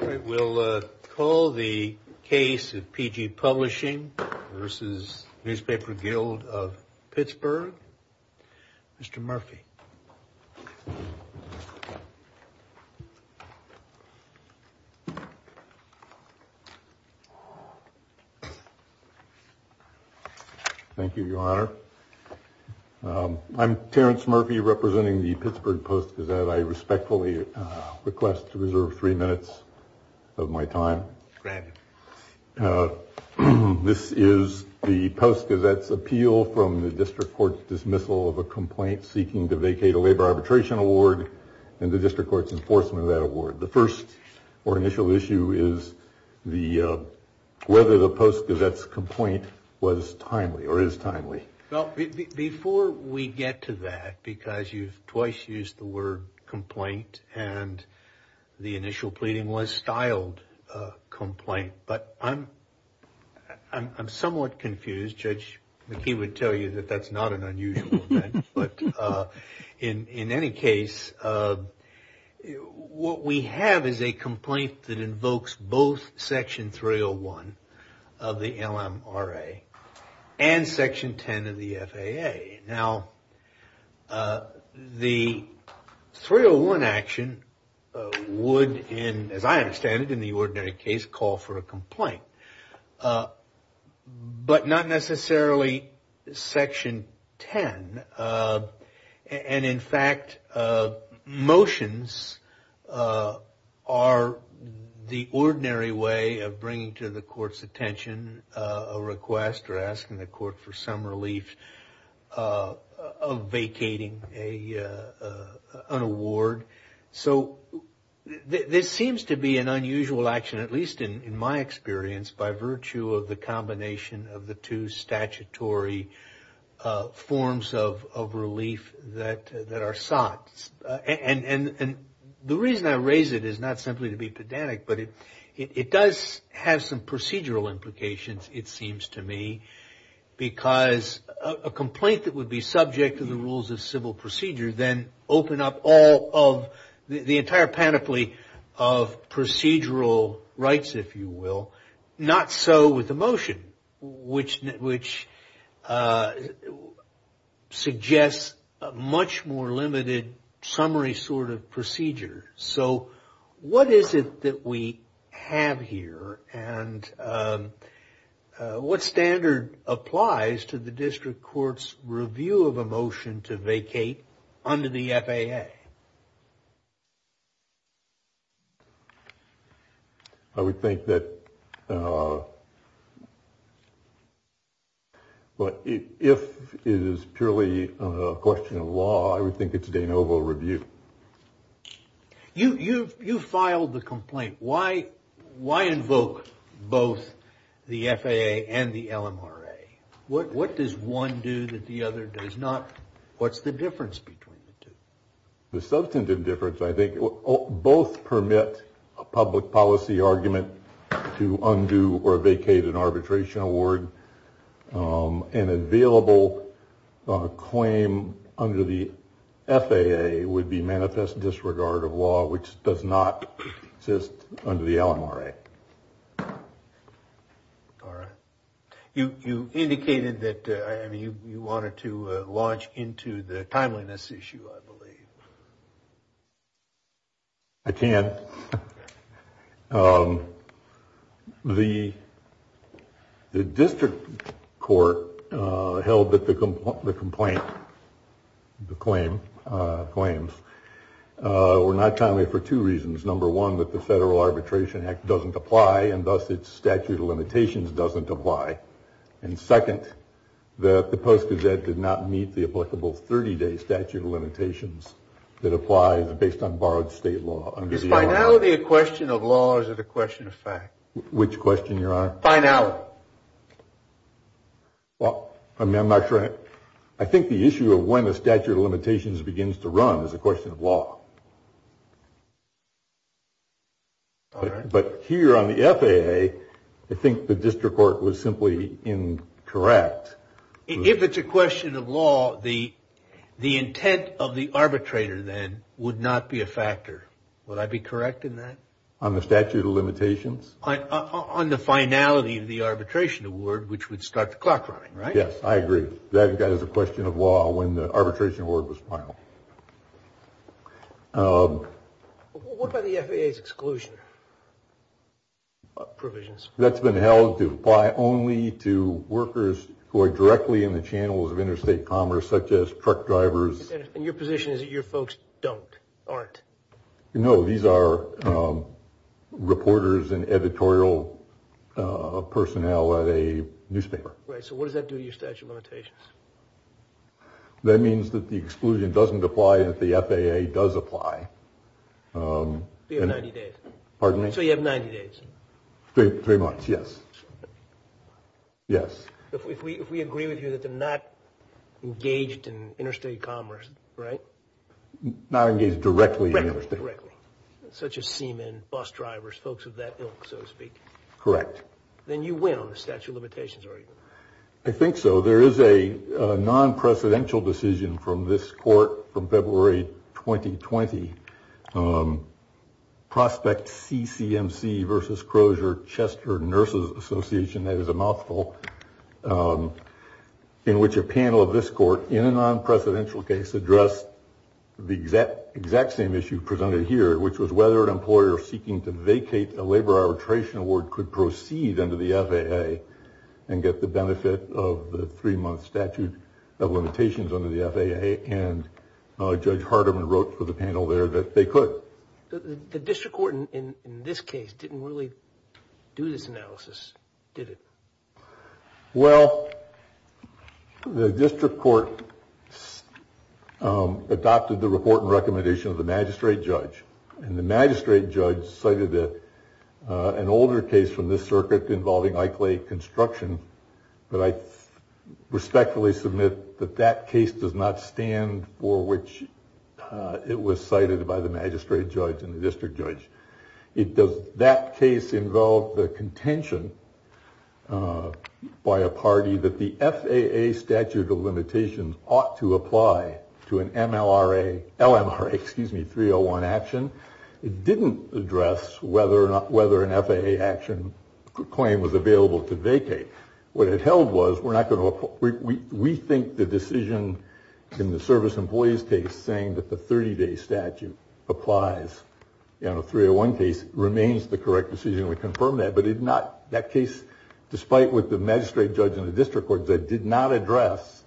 All right, we'll call the case of PG Publishing versus Newspaper Guild of Pittsburgh. Mr. Murphy. Thank you, Your Honor. I'm Terrence Murphy representing the Pittsburgh Post Gazette. I respectfully request to reserve three minutes of my time. Granted. This is the Post Gazette's appeal from the District Court's dismissal of a complaint seeking to vacate a labor arbitration award and the District Court's enforcement of that award. The first or initial issue is whether the Post Gazette's complaint was timely or is used the word complaint, and the initial pleading was styled complaint. But I'm somewhat confused. Judge McKee would tell you that that's not an unusual event. But in any case, what we have is a complaint that invokes both Section 301 of the LMRA and Section 10 of the FAA. Now, the 301 action would, as I understand it, in the ordinary case, call for a complaint. But not necessarily Section 10. And in fact, motions are the ordinary way of bringing to court for some relief of vacating an award. So, this seems to be an unusual action, at least in my experience, by virtue of the combination of the two statutory forms of relief that are sought. And the reason I raise it is not simply to be pedantic, but it does have some because a complaint that would be subject to the rules of civil procedure then open up all of the entire panoply of procedural rights, if you will. Not so with the motion, which suggests a much more applies to the district court's review of a motion to vacate under the FAA. I would think that if it is purely a question of law, I would think it's de novo review. You filed the complaint. Why invoke both the FAA and the LMRA? What does one do that the other does not? What's the difference between the two? The substantive difference, I think, both permit a public policy argument to undo or vacate an manifest disregard of law, which does not exist under the LMRA. All right. You indicated that you wanted to launch into the timeliness issue, I believe. I can. The the district court held that the complaint, the claim claims were not timely for two reasons. Number one, that the Federal Arbitration Act doesn't apply and thus its statute of limitations doesn't apply. And second, that the Post-Gazette did not meet the applicable 30 day statute of limitations that applies based on borrowed state law. Is finality a question of law or is it a question of fact? Which question, Your Honor? Finality. Well, I mean, I'm not sure. I think the issue of when the statute of limitations begins to run is a question of law. But here on the FAA, I think the district court was simply incorrect. If it's a question of law, the the intent of the arbitrator then would not be a factor. Would I be correct in that? On the statute of limitations? On the finality of the arbitration award, which would start the clock running, right? Yes, I agree. That is a question of law when the arbitration award was final. What about the FAA's exclusion provisions? That's been held to apply only to workers who are directly in the channels of interstate commerce, such as truck drivers. And your position is that your folks don't, aren't? No, these are reporters and editorial personnel at a newspaper. Right. So what does that do to your statute of limitations? That means that the exclusion doesn't apply, that the FAA does apply. You have 90 days. Pardon me? So you have 90 days. Three months, yes. Yes. If we agree with you that they're not engaged in interstate commerce, right? Not engaged directly in interstate. Correctly. Such as seamen, bus drivers, folks of that ilk, so to speak. Correct. Then you win on the statute of limitations argument. I think so. There is a non-precedential decision from this court from February 2020. Prospect CCMC versus Crozier Chester Nurses Association. That is a mouthful in which a panel of this court in a non-precedential case addressed the exact same issue presented here, which was whether an employer seeking to vacate a labor arbitration award could proceed under the FAA and get the benefit of the three month statute of limitations under the FAA. And Judge Hardiman wrote for the panel there that they could. The district court in this case didn't really do this analysis, did it? Well, the district court adopted the report and recommendation of the magistrate judge. And the magistrate judge cited that an older case from this circuit involving likely construction. But I respectfully submit that that case does not stand for which it was cited by the magistrate judge and the district judge. It does. That case involved the contention by a party that the FAA statute of limitations ought to apply to an M.L.R.A. L.M.R. Excuse me, 301 action. It didn't address whether or not whether an FAA action claim was available to vacate. What it held was we're not going to. We think the decision in the service employees case saying that the 30 day statute applies in a 301 case remains the correct decision. We confirm that. But if not, that case, despite what the magistrate judge in the district court said, did not address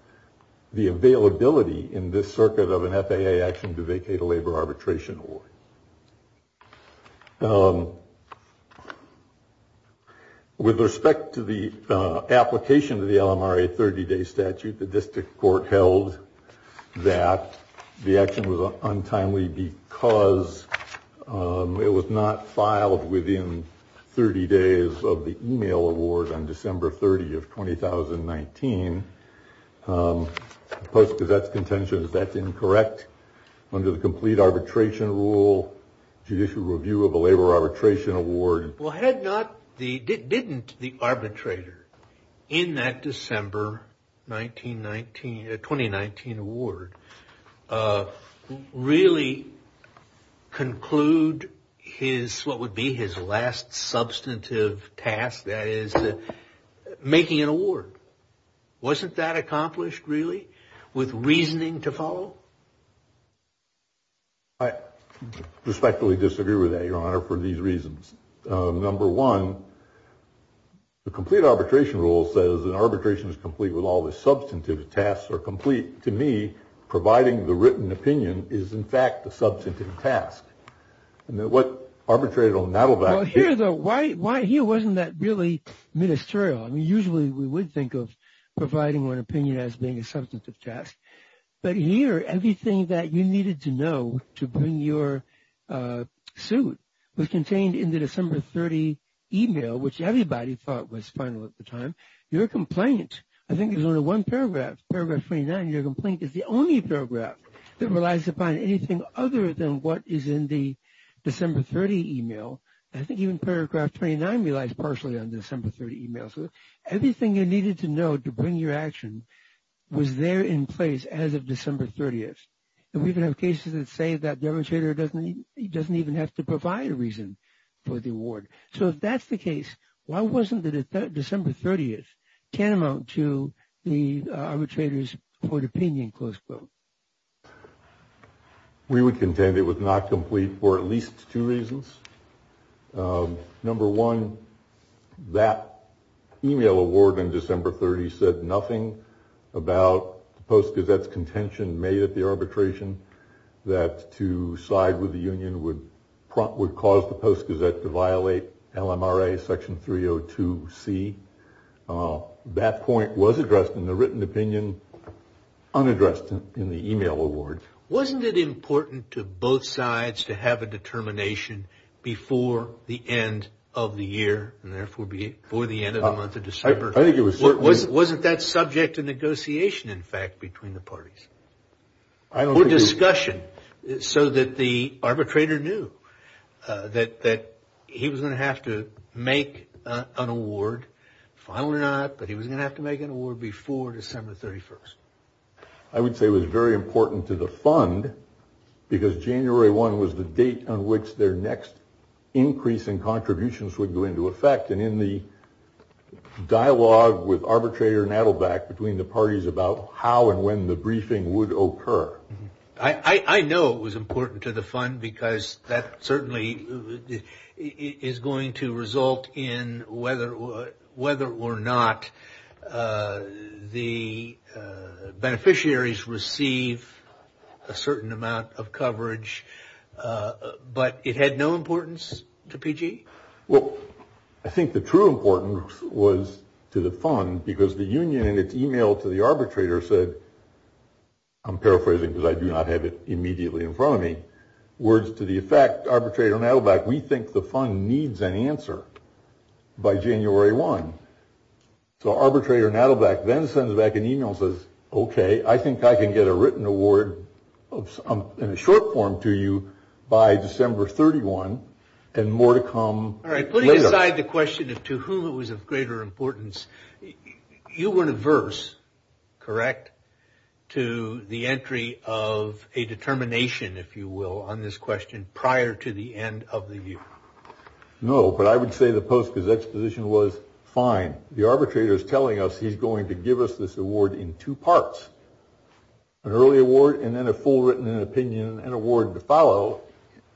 the availability in this circuit of an FAA action to vacate a labor arbitration. Or. With respect to the application of the L.M.R.A. 30 day statute, the district court held that the action was untimely because it was not filed within 30 days of the email award on December 30 of 2019. Post because that's contentious. That's incorrect. Under the complete arbitration rule, judicial review of a labor arbitration award. Well, had not the didn't the arbitrator in that December 1919 2019 award really conclude his what would be his last substantive task. That is making an award. Wasn't that accomplished really with reasoning to follow? I respectfully disagree with that, your honor, for these reasons. Number one. The complete arbitration rule says an arbitration is complete with all the substantive tasks are complete. To me, providing the written opinion is, in fact, a substantive task. What arbitrated on that here, though, why, why he wasn't that really ministerial. I mean, usually we would think of providing one opinion as being a substantive task. But here, everything that you needed to know to bring your suit was contained in the December 30 email, which everybody thought was final at the time. Your complaint. I think there's only one paragraph. Your complaint is the only paragraph that relies upon anything other than what is in the December 30 email. I think even paragraph 29 relies partially on December 30 emails. Everything you needed to know to bring your action was there in place as of December 30th. And we can have cases that say that the arbitrator doesn't he doesn't even have to provide a reason for the award. So if that's the case, why wasn't the December 30th tantamount to the arbitrator's court opinion? Close quote. We would contend it was not complete for at least two reasons. Number one, that email award in December 30 said nothing about the Post Gazette's contention made at the arbitration that to side with the union would cause the Post Gazette to violate LMRA Section 302C. That point was addressed in the written opinion, unaddressed in the email award. Wasn't it important to both sides to have a determination before the end of the year, and therefore before the end of the month of December? I think it was certainly. Wasn't that subject to negotiation in fact between the parties? Or discussion so that the arbitrator knew that he was going to have to make an award. Finally not, but he was going to have to make an award before December 31st. I would say it was very important to the fund because January 1 was the date on which their next increase in contributions would go into effect. And in the dialogue with arbitrator Nadelbeck between the parties about how and when the briefing would occur. I know it was important to the fund because that certainly is going to result in whether or not the beneficiaries receive a certain amount of coverage. But it had no importance to PG? Well, I think the true importance was to the fund because the union in its email to the arbitrator said, I'm paraphrasing because I do not have it immediately in front of me. Words to the effect arbitrator Nadelbeck, we think the fund needs an answer by January 1. So arbitrator Nadelbeck then sends back an email says, OK, I think I can get a written award in short form to you by December 31 and more to come. All right. Put aside the question of to whom it was of greater importance. You were diverse, correct? To the entry of a determination, if you will, on this question prior to the end of the year. No, but I would say the Post-Gazette's position was fine. The arbitrator is telling us he's going to give us this award in two parts. An early award and then a full written opinion and award to follow.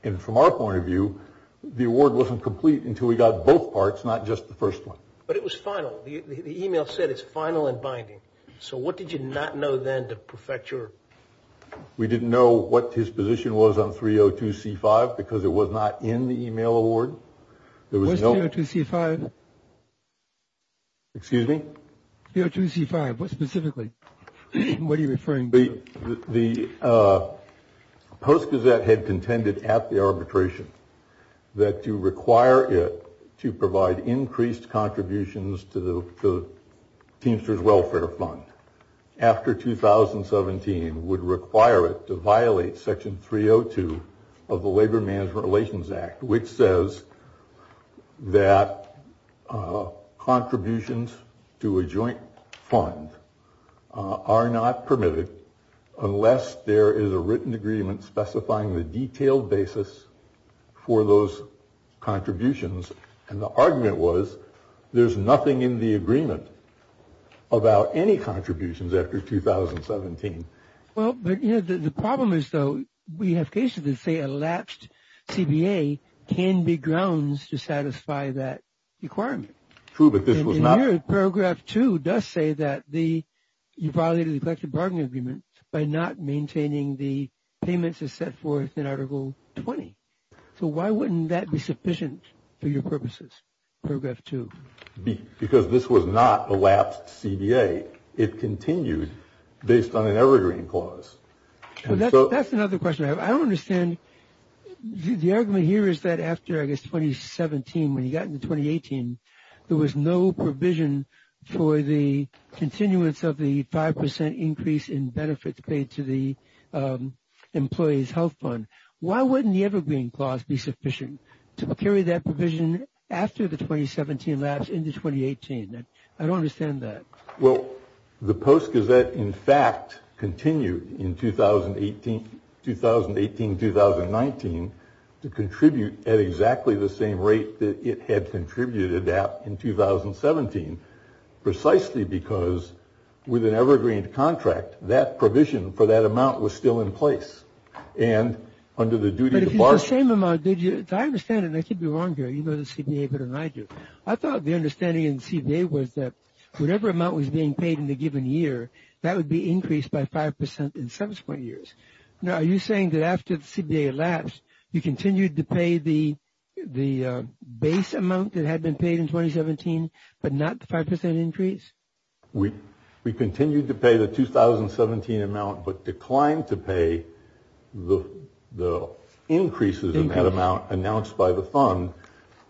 And from our point of view, the award wasn't complete until we got both parts, not just the first one. But it was final. The email said it's final and binding. So what did you not know then to perfect your. We didn't know what his position was on 302 C5 because it was not in the email award. To see five. Excuse me. Here to see five. Specifically, what are you referring to? The Post-Gazette had contended at the arbitration that you require it to provide increased contributions to the teamsters welfare fund. After 2017 would require it to violate Section 302 of the Labor Management Relations Act, which says that contributions to a joint fund are not permitted unless there is a written agreement specifying the detailed basis for those contributions. And the argument was there's nothing in the agreement about any contributions after 2017. Well, the problem is, though, we have cases that say elapsed CBA can be grounds to satisfy that requirement. True. But this was not paragraph two does say that the you violated the collective bargaining agreement by not maintaining the payments is set forth in Article 20. So why wouldn't that be sufficient for your purposes? Paragraph two, because this was not elapsed CBA. It continued based on an evergreen clause. So that's another question. I don't understand. The argument here is that after I guess 2017, when he got in 2018, there was no provision for the continuance of the 5 percent increase in benefits paid to the employees health fund. Why wouldn't the evergreen clause be sufficient to carry that provision after the 2017 lapse into 2018? I don't understand that. Well, the Post Gazette, in fact, continued in 2018, 2018, 2019, to contribute at exactly the same rate that it had contributed at in 2017, precisely because with an evergreen contract, that provision for that amount was still in place. And under the duty of the same amount, did you understand it? I could be wrong here. You know, this could be a bit of an idea. I thought the understanding in CBA was that whatever amount was being paid in the given year, that would be increased by 5 percent in subsequent years. Now, are you saying that after the CBA elapsed, you continued to pay the the base amount that had been paid in 2017, but not the 5 percent increase? We we continued to pay the 2017 amount, but declined to pay the the increases in that amount announced by the fund,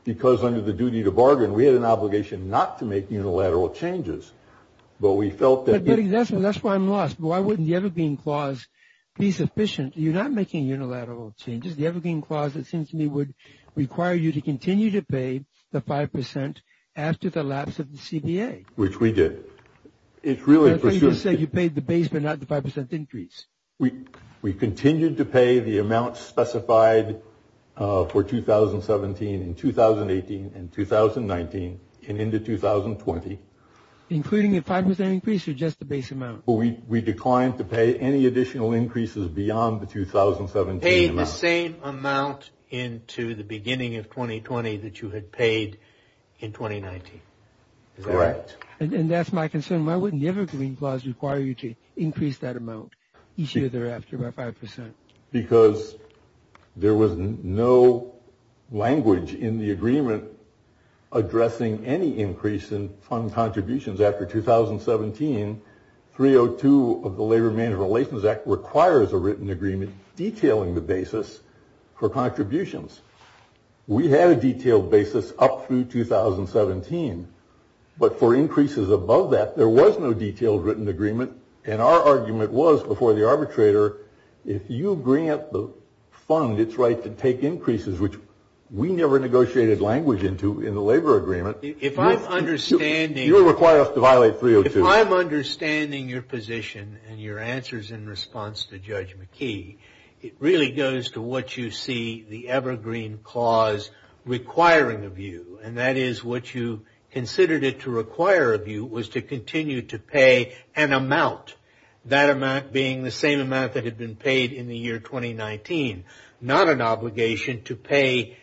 because under the duty to bargain, we had an obligation not to make unilateral changes. But we felt that that's why I'm lost. Why wouldn't the evergreen clause be sufficient? You're not making unilateral changes. The evergreen clause, it seems to me, would require you to continue to pay the 5 percent after the lapse of the CBA, which we did. It's really just that you paid the base, but not the 5 percent increase. We we continued to pay the amount specified for 2017 and 2018 and 2019 and into 2020, including a 5 percent increase or just the base amount. We declined to pay any additional increases beyond the 2017 amount. The same amount into the beginning of 2020 that you had paid in 2019. Correct. And that's my concern. Why wouldn't the evergreen clause require you to increase that amount each year thereafter by 5 percent? Because there was no language in the agreement addressing any increase in fund contributions after 2017. 302 of the Labor Management Relations Act requires a written agreement detailing the basis for contributions. We had a detailed basis up through 2017, but for increases above that, there was no detailed written agreement. And our argument was before the arbitrator, if you bring up the fund, it's right to take increases, which we never negotiated language into in the labor agreement. If I'm understanding, you're required to violate 302. If I'm understanding your position and your answers in response to Judge McKee, it really goes to what you see the evergreen clause requiring of you. And that is what you considered it to require of you was to continue to pay an amount, that amount being the same amount that had been paid in the year 2019, not an obligation to pay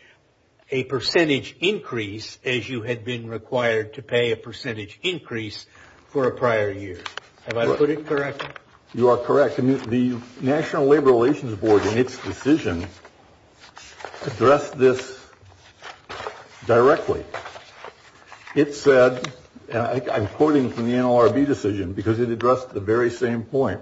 a percentage increase as you had been required to pay a percentage increase for a prior year. Have I put it correctly? You are correct. The National Labor Relations Board in its decision addressed this directly. It said, I'm quoting from the NLRB decision because it addressed the very same point.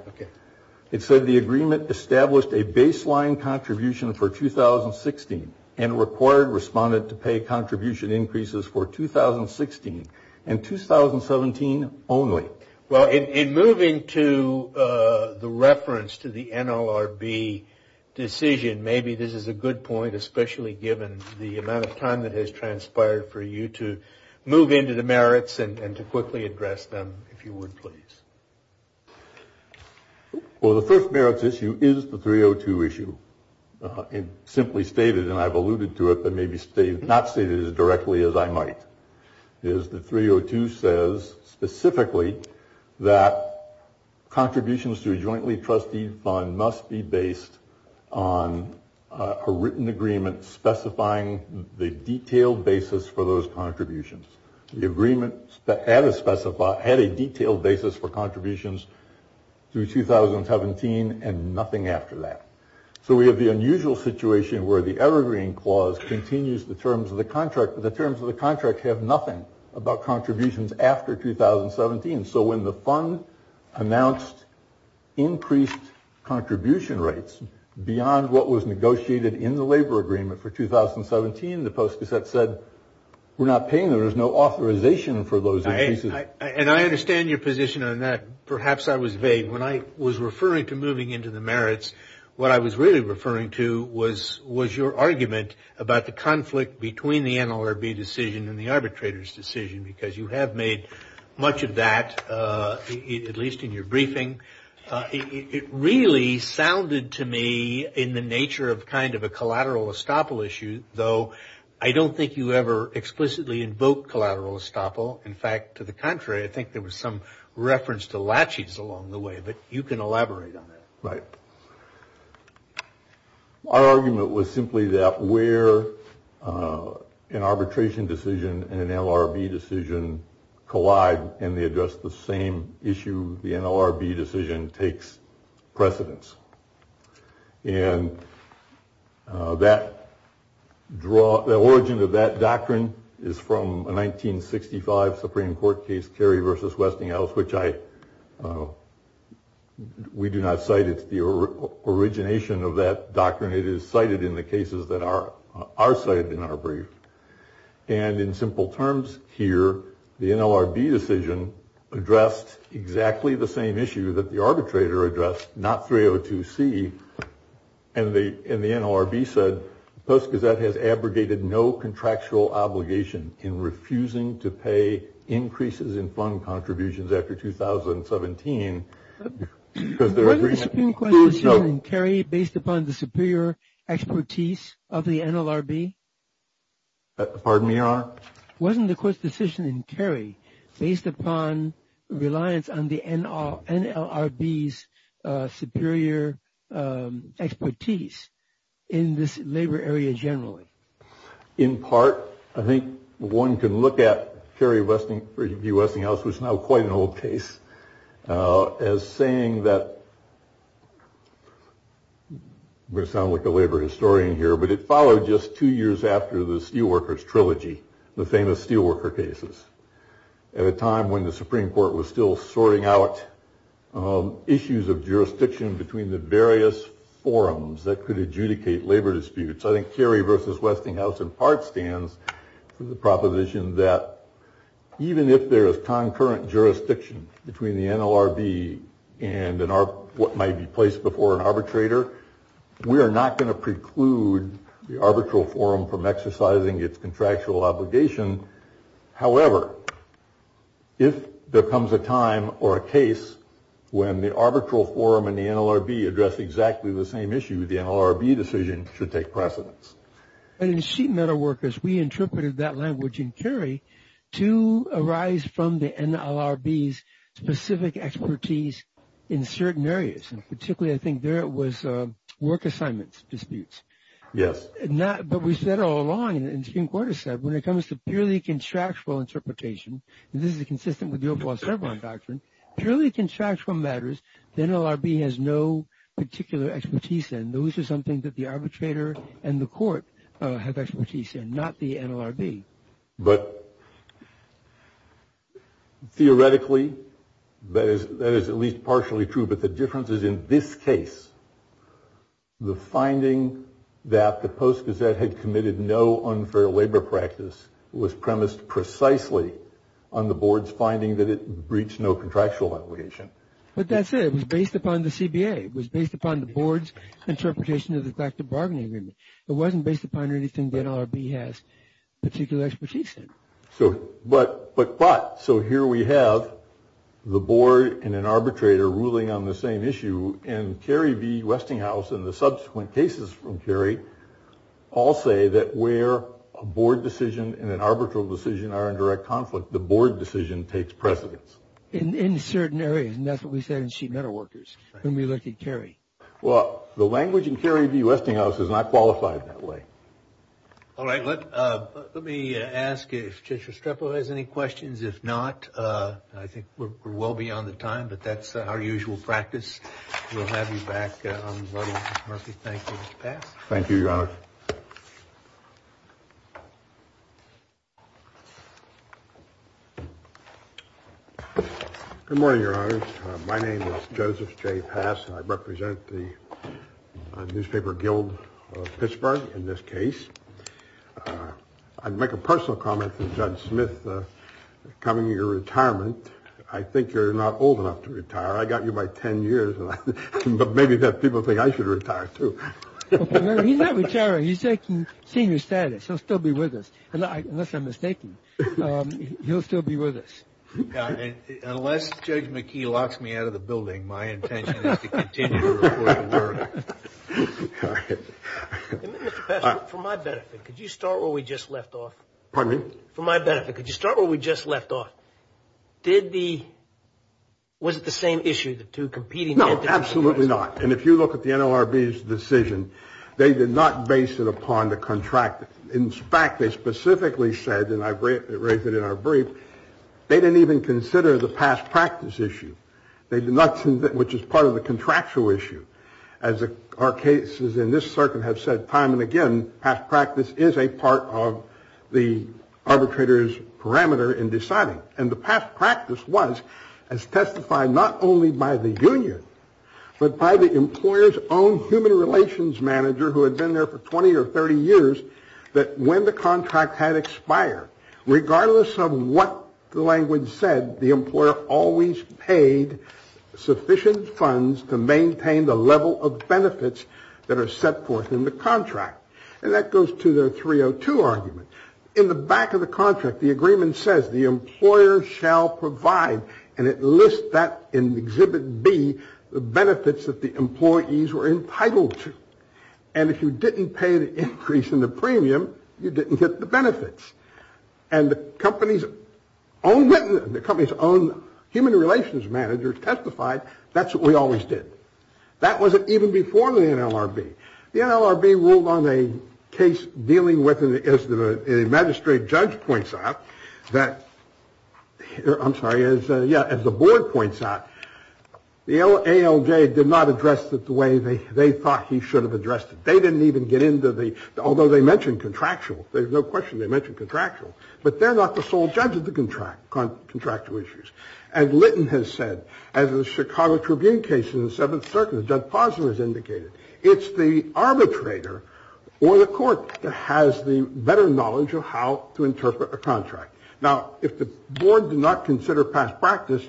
It said the agreement established a baseline contribution for 2016 and required respondent to pay contribution increases for 2016 and 2017 only. Well, in moving to the reference to the NLRB decision, maybe this is a good point, especially given the amount of time that has transpired for you to move into the merits and to quickly address them, if you would, please. Well, the first merits issue is the 302 issue. It's simply stated, and I've alluded to it, but maybe not stated as directly as I might. The 302 says specifically that contributions to a jointly trusted fund must be based on a written agreement specifying the detailed basis for those contributions. The agreement had a detailed basis for contributions through 2017 and nothing after that. So we have the unusual situation where the Evergreen Clause continues the terms of the contract, but the terms of the contract have nothing about contributions after 2017. So when the fund announced increased contribution rates beyond what was negotiated in the labor agreement for 2017, the Post-Cassette said we're not paying them. There's no authorization for those increases. And I understand your position on that. Perhaps I was vague. When I was referring to moving into the merits, what I was really referring to was your argument about the conflict between the NLRB decision and the arbitrator's decision because you have made much of that, at least in your briefing. It really sounded to me in the nature of kind of a collateral estoppel issue, though I don't think you ever explicitly invoked collateral estoppel. In fact, to the contrary, I think there was some reference to latches along the way, but you can elaborate on that. Right. Our argument was simply that where an arbitration decision and an NLRB decision collide and they address the same issue, the NLRB decision takes precedence. And that draw the origin of that doctrine is from a 1965 Supreme Court case, Kerry versus Westinghouse, which I. We do not cite it's the origination of that doctrine. It is cited in the cases that are are cited in our brief. And in simple terms here, the NLRB decision addressed exactly the same issue that the arbitrator addressed, not 302 C. And the NLRB said Post Gazette has abrogated no contractual obligation in refusing to pay increases in fund contributions after 2017. Because there is no Kerry based upon the superior expertise of the NLRB. Pardon me. Our wasn't the court's decision in Kerry based upon reliance on the NLRB's superior expertise in this labor area generally. In part, I think one can look at Kerry Westinghouse. The Westinghouse was now quite an old case as saying that. We sound like a labor historian here, but it followed just two years after the Steelworkers Trilogy. The famous steelworker cases at a time when the Supreme Court was still sorting out issues of jurisdiction between the various forums that could adjudicate labor disputes. I think Kerry versus Westinghouse, in part, stands for the proposition that even if there is concurrent jurisdiction between the NLRB and what might be placed before an arbitrator, we are not going to preclude the arbitral forum from exercising its contractual obligation. However, if there comes a time or a case when the arbitral forum and the NLRB address exactly the same issue, the NLRB decision should take precedence. In Sheet Metalworkers, we interpreted that language in Kerry to arise from the NLRB's specific expertise in certain areas. Particularly, I think there was work assignments disputes. Yes. But we said all along, and the Supreme Court has said, when it comes to purely contractual interpretation, and this is consistent with the overall Chevron doctrine, purely contractual matters, the NLRB has no particular expertise in. Those are something that the arbitrator and the court have expertise in, not the NLRB. But theoretically, that is at least partially true. But the difference is, in this case, the finding that the Post Gazette had committed no unfair labor practice was premised precisely on the board's finding that it breached no contractual obligation. But that's it. It was based upon the CBA. It was based upon the board's interpretation of the collective bargaining agreement. It wasn't based upon anything the NLRB has particular expertise in. But, so here we have the board and an arbitrator ruling on the same issue, and Kerry v. Westinghouse and the subsequent cases from Kerry all say that where a board decision and an arbitral decision are in direct conflict, the board decision takes precedence. In certain areas, and that's what we said in Sheet Metalworkers when we looked at Kerry. Well, the language in Kerry v. Westinghouse is not qualified that way. All right. Let me ask if Judge Restrepo has any questions. If not, I think we're well beyond the time, but that's our usual practice. We'll have you back. I'm going to let Mr. Murphy thank Judge Pass. Thank you, Your Honor. Good morning, Your Honor. My name is Joseph J. Pass, and I represent the Newspaper Guild of Pittsburgh in this case. I'd make a personal comment to Judge Smith. Coming into your retirement, I think you're not old enough to retire. I got you by 10 years, but maybe people think I should retire, too. He's not retiring. He's taking senior status. He'll still be with us, unless I'm mistaken. He'll still be with us. Unless Judge McKee locks me out of the building, my intention is to continue to report to work. Mr. Pass, for my benefit, could you start where we just left off? Pardon me? For my benefit, could you start where we just left off? Was it the same issue, the two competing entities? No, absolutely not, and if you look at the NLRB's decision, they did not base it upon the contract. In fact, they specifically said, and I raised it in our brief, they didn't even consider the past practice issue, which is part of the contractual issue. As our cases in this circuit have said time and again, past practice is a part of the arbitrator's parameter in deciding. And the past practice was, as testified not only by the union, but by the employer's own human relations manager, who had been there for 20 or 30 years, that when the contract had expired, regardless of what the language said, the employer always paid sufficient funds to maintain the level of benefits that are set forth in the contract. And that goes to the 302 argument. In the back of the contract, the agreement says, the employer shall provide, and it lists that in Exhibit B, the benefits that the employees were entitled to. And if you didn't pay the increase in the premium, you didn't get the benefits. And the company's own human relations manager testified, that's what we always did. That wasn't even before the NLRB. The NLRB ruled on a case dealing with, as the magistrate judge points out, I'm sorry, as the board points out, the ALJ did not address it the way they thought he should have addressed it. They didn't even get into the, although they mentioned contractual, there's no question they mentioned contractual, but they're not the sole judge of the contractual issues. And Lytton has said, as the Chicago Tribune case in the Seventh Circuit, as Judge Posner has indicated, it's the arbitrator or the court that has the better knowledge of how to interpret a contract. Now, if the board did not consider past practice,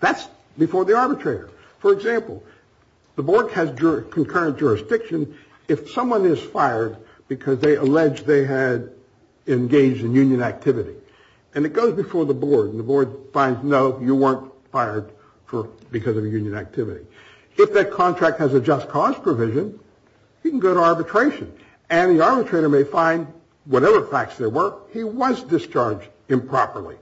that's before the arbitrator. For example, the board has concurrent jurisdiction if someone is fired because they allege they had engaged in union activity. And it goes before the board. And the board finds, no, you weren't fired because of union activity. If that contract has a just cause provision, you can go to arbitration. And the arbitrator may find, whatever facts there were, he was discharged improperly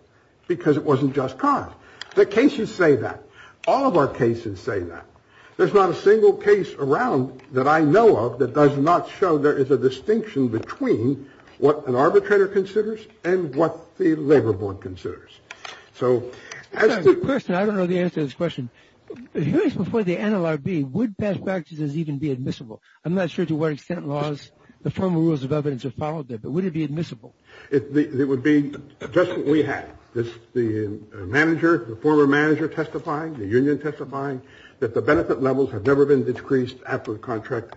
because it wasn't just cause. The cases say that. All of our cases say that. There's not a single case around that I know of that does not show there is a distinction between what an arbitrator considers and what the labor board considers. So as the person, I don't know the answer to this question. Before the NLRB, would past practices even be admissible? I'm not sure to what extent laws, the formal rules of evidence are followed there, but would it be admissible? It would be just what we have. The former manager testifying, the union testifying, that the benefit levels have never been decreased after the contract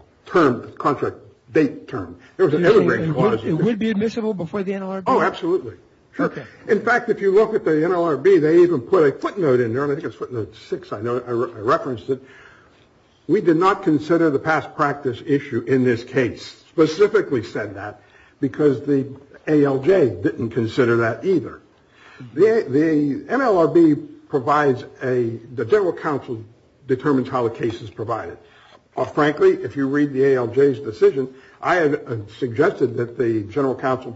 date term. It would be admissible before the NLRB? Oh, absolutely. Sure. In fact, if you look at the NLRB, they even put a footnote in there. I think it's footnote six, I referenced it. We did not consider the past practice issue in this case, specifically said that because the ALJ didn't consider that either. The NLRB provides a, the general counsel determines how the case is provided. Frankly, if you read the ALJ's decision, I had suggested that the general counsel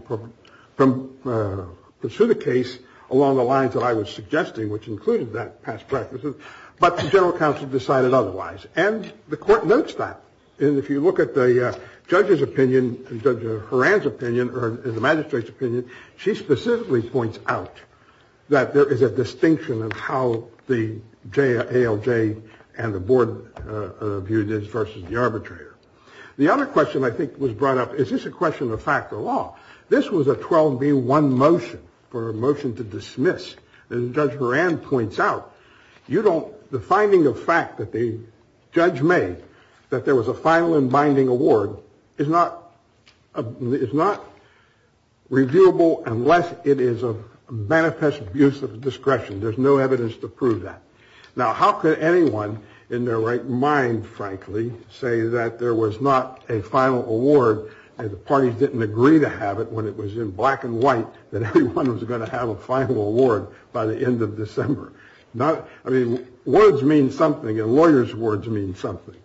pursue the case along the lines that I was suggesting, which included that past practices, but the general counsel decided otherwise. And the court notes that. And if you look at the judge's opinion, Judge Horan's opinion, or the magistrate's opinion, she specifically points out that there is a distinction of how the ALJ and the board viewed it versus the arbitrator. The other question I think was brought up. Is this a question of fact or law? This was a 12-B-1 motion for a motion to dismiss. And Judge Horan points out, you don't, the finding of fact that the judge made that there was a final and binding award is not, is not reviewable unless it is a manifest abuse of discretion. There's no evidence to prove that. Now, how could anyone in their right mind, frankly, say that there was not a final award, and the parties didn't agree to have it when it was in black and white, that everyone was going to have a final award by the end of December? Not, I mean, words mean something, and lawyers' words mean something.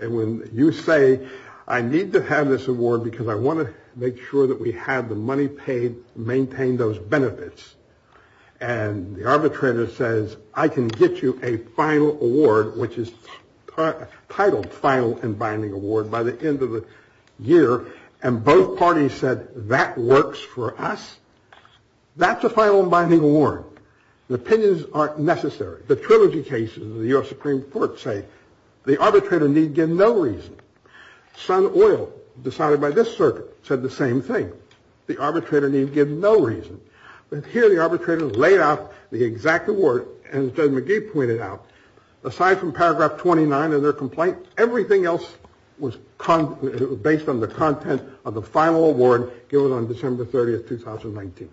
And when you say, I need to have this award because I want to make sure that we have the money paid, maintain those benefits, and the arbitrator says, I can get you a final award, which is titled final and binding award, by the end of the year, and both parties said, that works for us, that's a final and binding award. Opinions aren't necessary. The trilogy cases of the U.S. Supreme Court say the arbitrator need give no reason. Sun Oil, decided by this circuit, said the same thing. The arbitrator need give no reason. But here the arbitrator laid out the exact award, and Judge McGee pointed out, aside from paragraph 29 of their complaint, everything else was based on the content of the final award given on December 30th, 2019.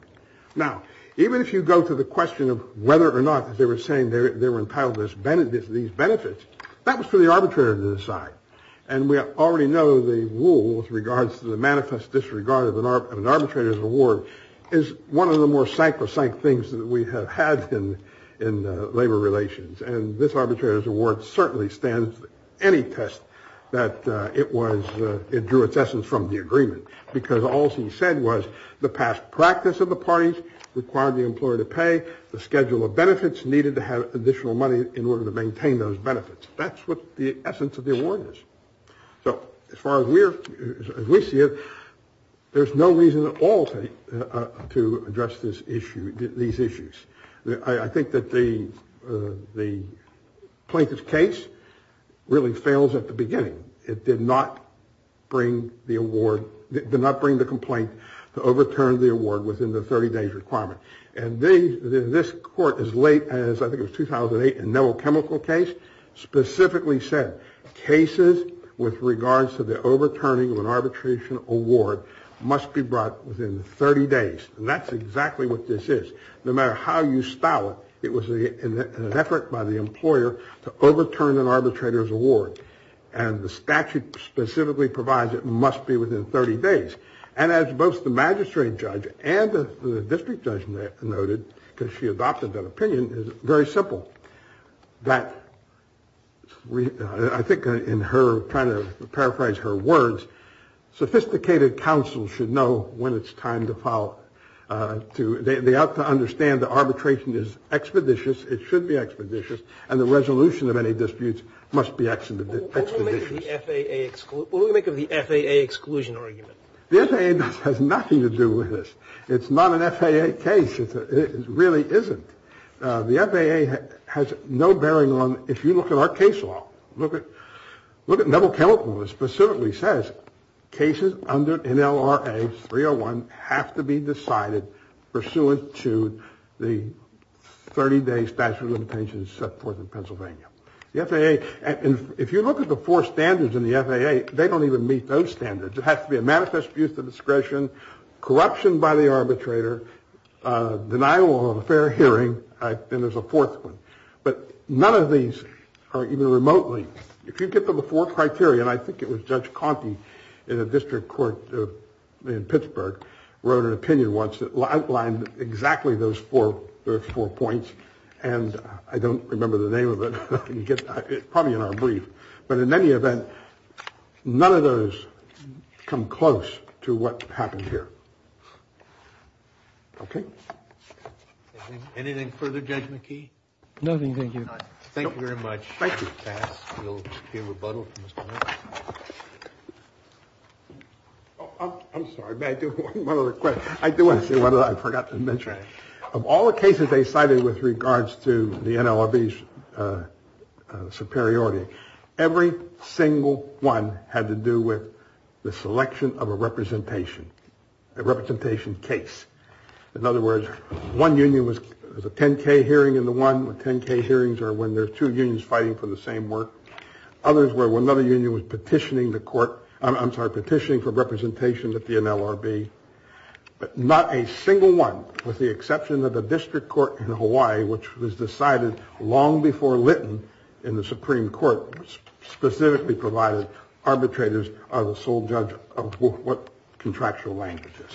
Now, even if you go to the question of whether or not they were saying they were entitled to these benefits, that was for the arbitrator to decide, and we already know the rule with regards to the manifest disregard of an arbitrator's award is one of the more psychosanct things that we have had in labor relations, and this arbitrator's award certainly stands any test that it was, it drew its essence from the agreement, because all he said was the past practice of the parties required the employer to pay, the schedule of benefits needed to have additional money in order to maintain those benefits. That's what the essence of the award is. So as far as we see it, there's no reason at all to address these issues. I think that the plaintiff's case really fails at the beginning. It did not bring the award, did not bring the complaint to overturn the award within the 30-day requirement, and this court, as late as I think it was 2008 in the chemical case, specifically said cases with regards to the overturning of an arbitration award must be brought within 30 days, and that's exactly what this is. No matter how you style it, it was an effort by the employer to overturn an arbitrator's award, and the statute specifically provides it must be within 30 days, and as both the magistrate judge and the district judge noted, because she adopted that opinion, is very simple, that I think in her kind of paraphrase her words, sophisticated counsel should know when it's time to follow, to understand the arbitration is expeditious, it should be expeditious, and the resolution of any disputes must be expeditious. What do we make of the FAA exclusion argument? The FAA has nothing to do with this. It's not an FAA case. It really isn't. The FAA has no bearing on, if you look at our case law, look at double chemical that specifically says cases under NLRA 301 have to be decided pursuant to the 30 day statute of limitations set forth in Pennsylvania. The FAA, if you look at the four standards in the FAA, they don't even meet those standards. It has to be a manifest use of discretion, corruption by the arbitrator, denial of a fair hearing, and there's a fourth one. But none of these are even remotely, if you get to the four criteria, and I think it was Judge Conte in a district court in Pittsburgh wrote an opinion once that outlined exactly those four points. And I don't remember the name of it. It's probably in our brief. But in any event, none of those come close to what happened here. OK. Anything further, Judge McKee? Nothing. Thank you. Thank you very much. Thank you. I'm sorry. I do want to say what I forgot to mention. Of all the cases they cited with regards to the NLRB superiority, every single one had to do with the selection of a representation, a representation case. In other words, one union was a 10K hearing in the one with 10K hearings or when there are two unions fighting for the same work. Others were when another union was petitioning the court. I'm sorry, petitioning for representation at the NLRB. But not a single one, with the exception of the district court in Hawaii, which was decided long before Lytton in the Supreme Court, specifically provided arbitrators are the sole judge of what contractual languages.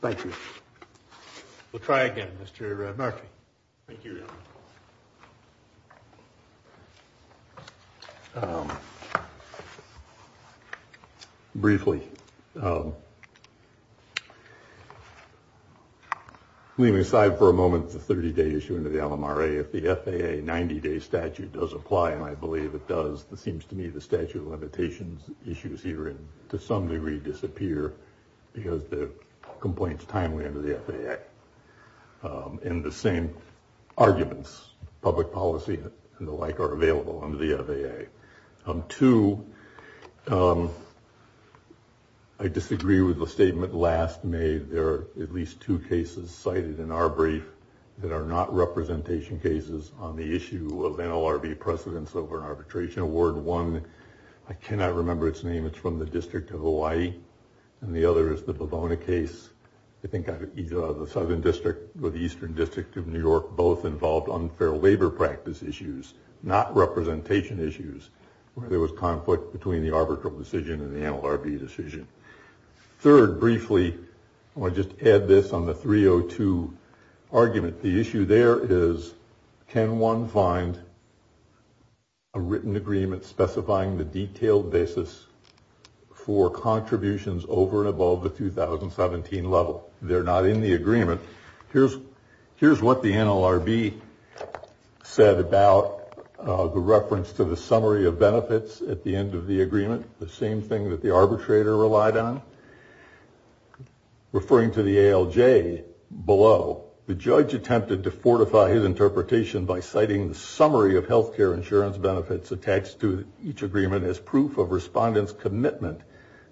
Thank you. We'll try again. Thank you. Briefly. Leaving aside for a moment, the 30 day issue into the LMRA, if the FAA 90 day statute does apply, and I believe it does, it seems to me the statute of limitations issues here to some degree disappear because the complaints timely under the FAA. In the same arguments, public policy and the like are available under the FAA. Two, I disagree with the statement last made. There are at least two cases cited in our brief that are not representation cases on the issue of NLRB precedents over arbitration. Award one, I cannot remember its name. It's from the District of Hawaii. And the other is the Bavona case. I think either the Southern District or the Eastern District of New York both involved unfair labor practice issues, not representation issues where there was conflict between the arbitral decision and the NLRB decision. Third, briefly, I want to just add this on the 302 argument. The issue there is can one find a written agreement specifying the detailed basis for contributions over and above the 2017 level? They're not in the agreement. Here's what the NLRB said about the reference to the summary of benefits at the end of the agreement, the same thing that the arbitrator relied on. Referring to the ALJ below, the judge attempted to fortify his interpretation by citing the summary of health care insurance benefits attached to each agreement as proof of respondents' commitment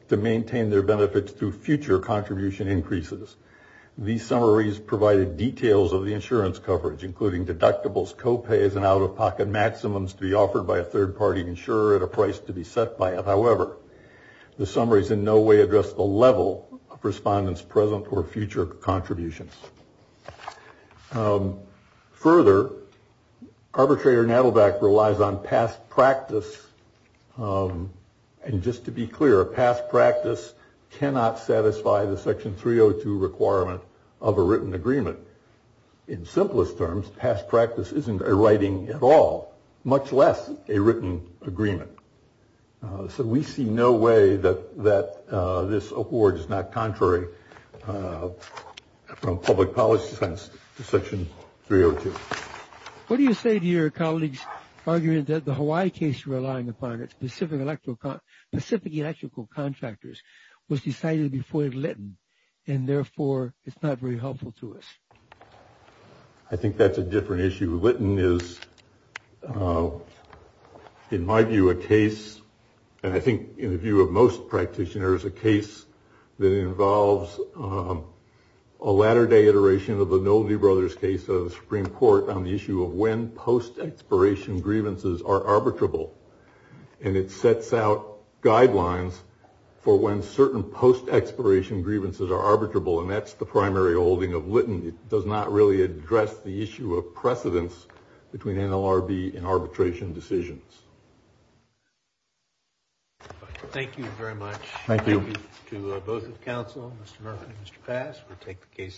to maintain their benefits through future contribution increases. These summaries provided details of the insurance coverage, including deductibles, copays, and out-of-pocket maximums to be offered by a third-party insurer at a price to be set by it. However, the summaries in no way address the level of respondents' present or future contributions. Further, arbitrator Nadelbach relies on past practice. And just to be clear, past practice cannot satisfy the Section 302 requirement of a written agreement. In simplest terms, past practice isn't a writing at all, much less a written agreement. So we see no way that this award is not contrary from public policy sense to Section 302. What do you say to your colleagues' argument that the Hawaii case you're relying upon, specific electrical contractors, was decided before Litton, and therefore it's not very helpful to us? I think that's a different issue. Litton is, in my view, a case, and I think in the view of most practitioners, a case that involves a latter-day iteration of the Nolte brothers' case of the Supreme Court on the issue of when post-expiration grievances are arbitrable. And it sets out guidelines for when certain post-expiration grievances are arbitrable, and that's the primary holding of Litton. It does not really address the issue of precedence between NLRB and arbitration decisions. Thank you very much. Thank you. Thank you to both the Council, Mr. Murphy and Mr. Pass.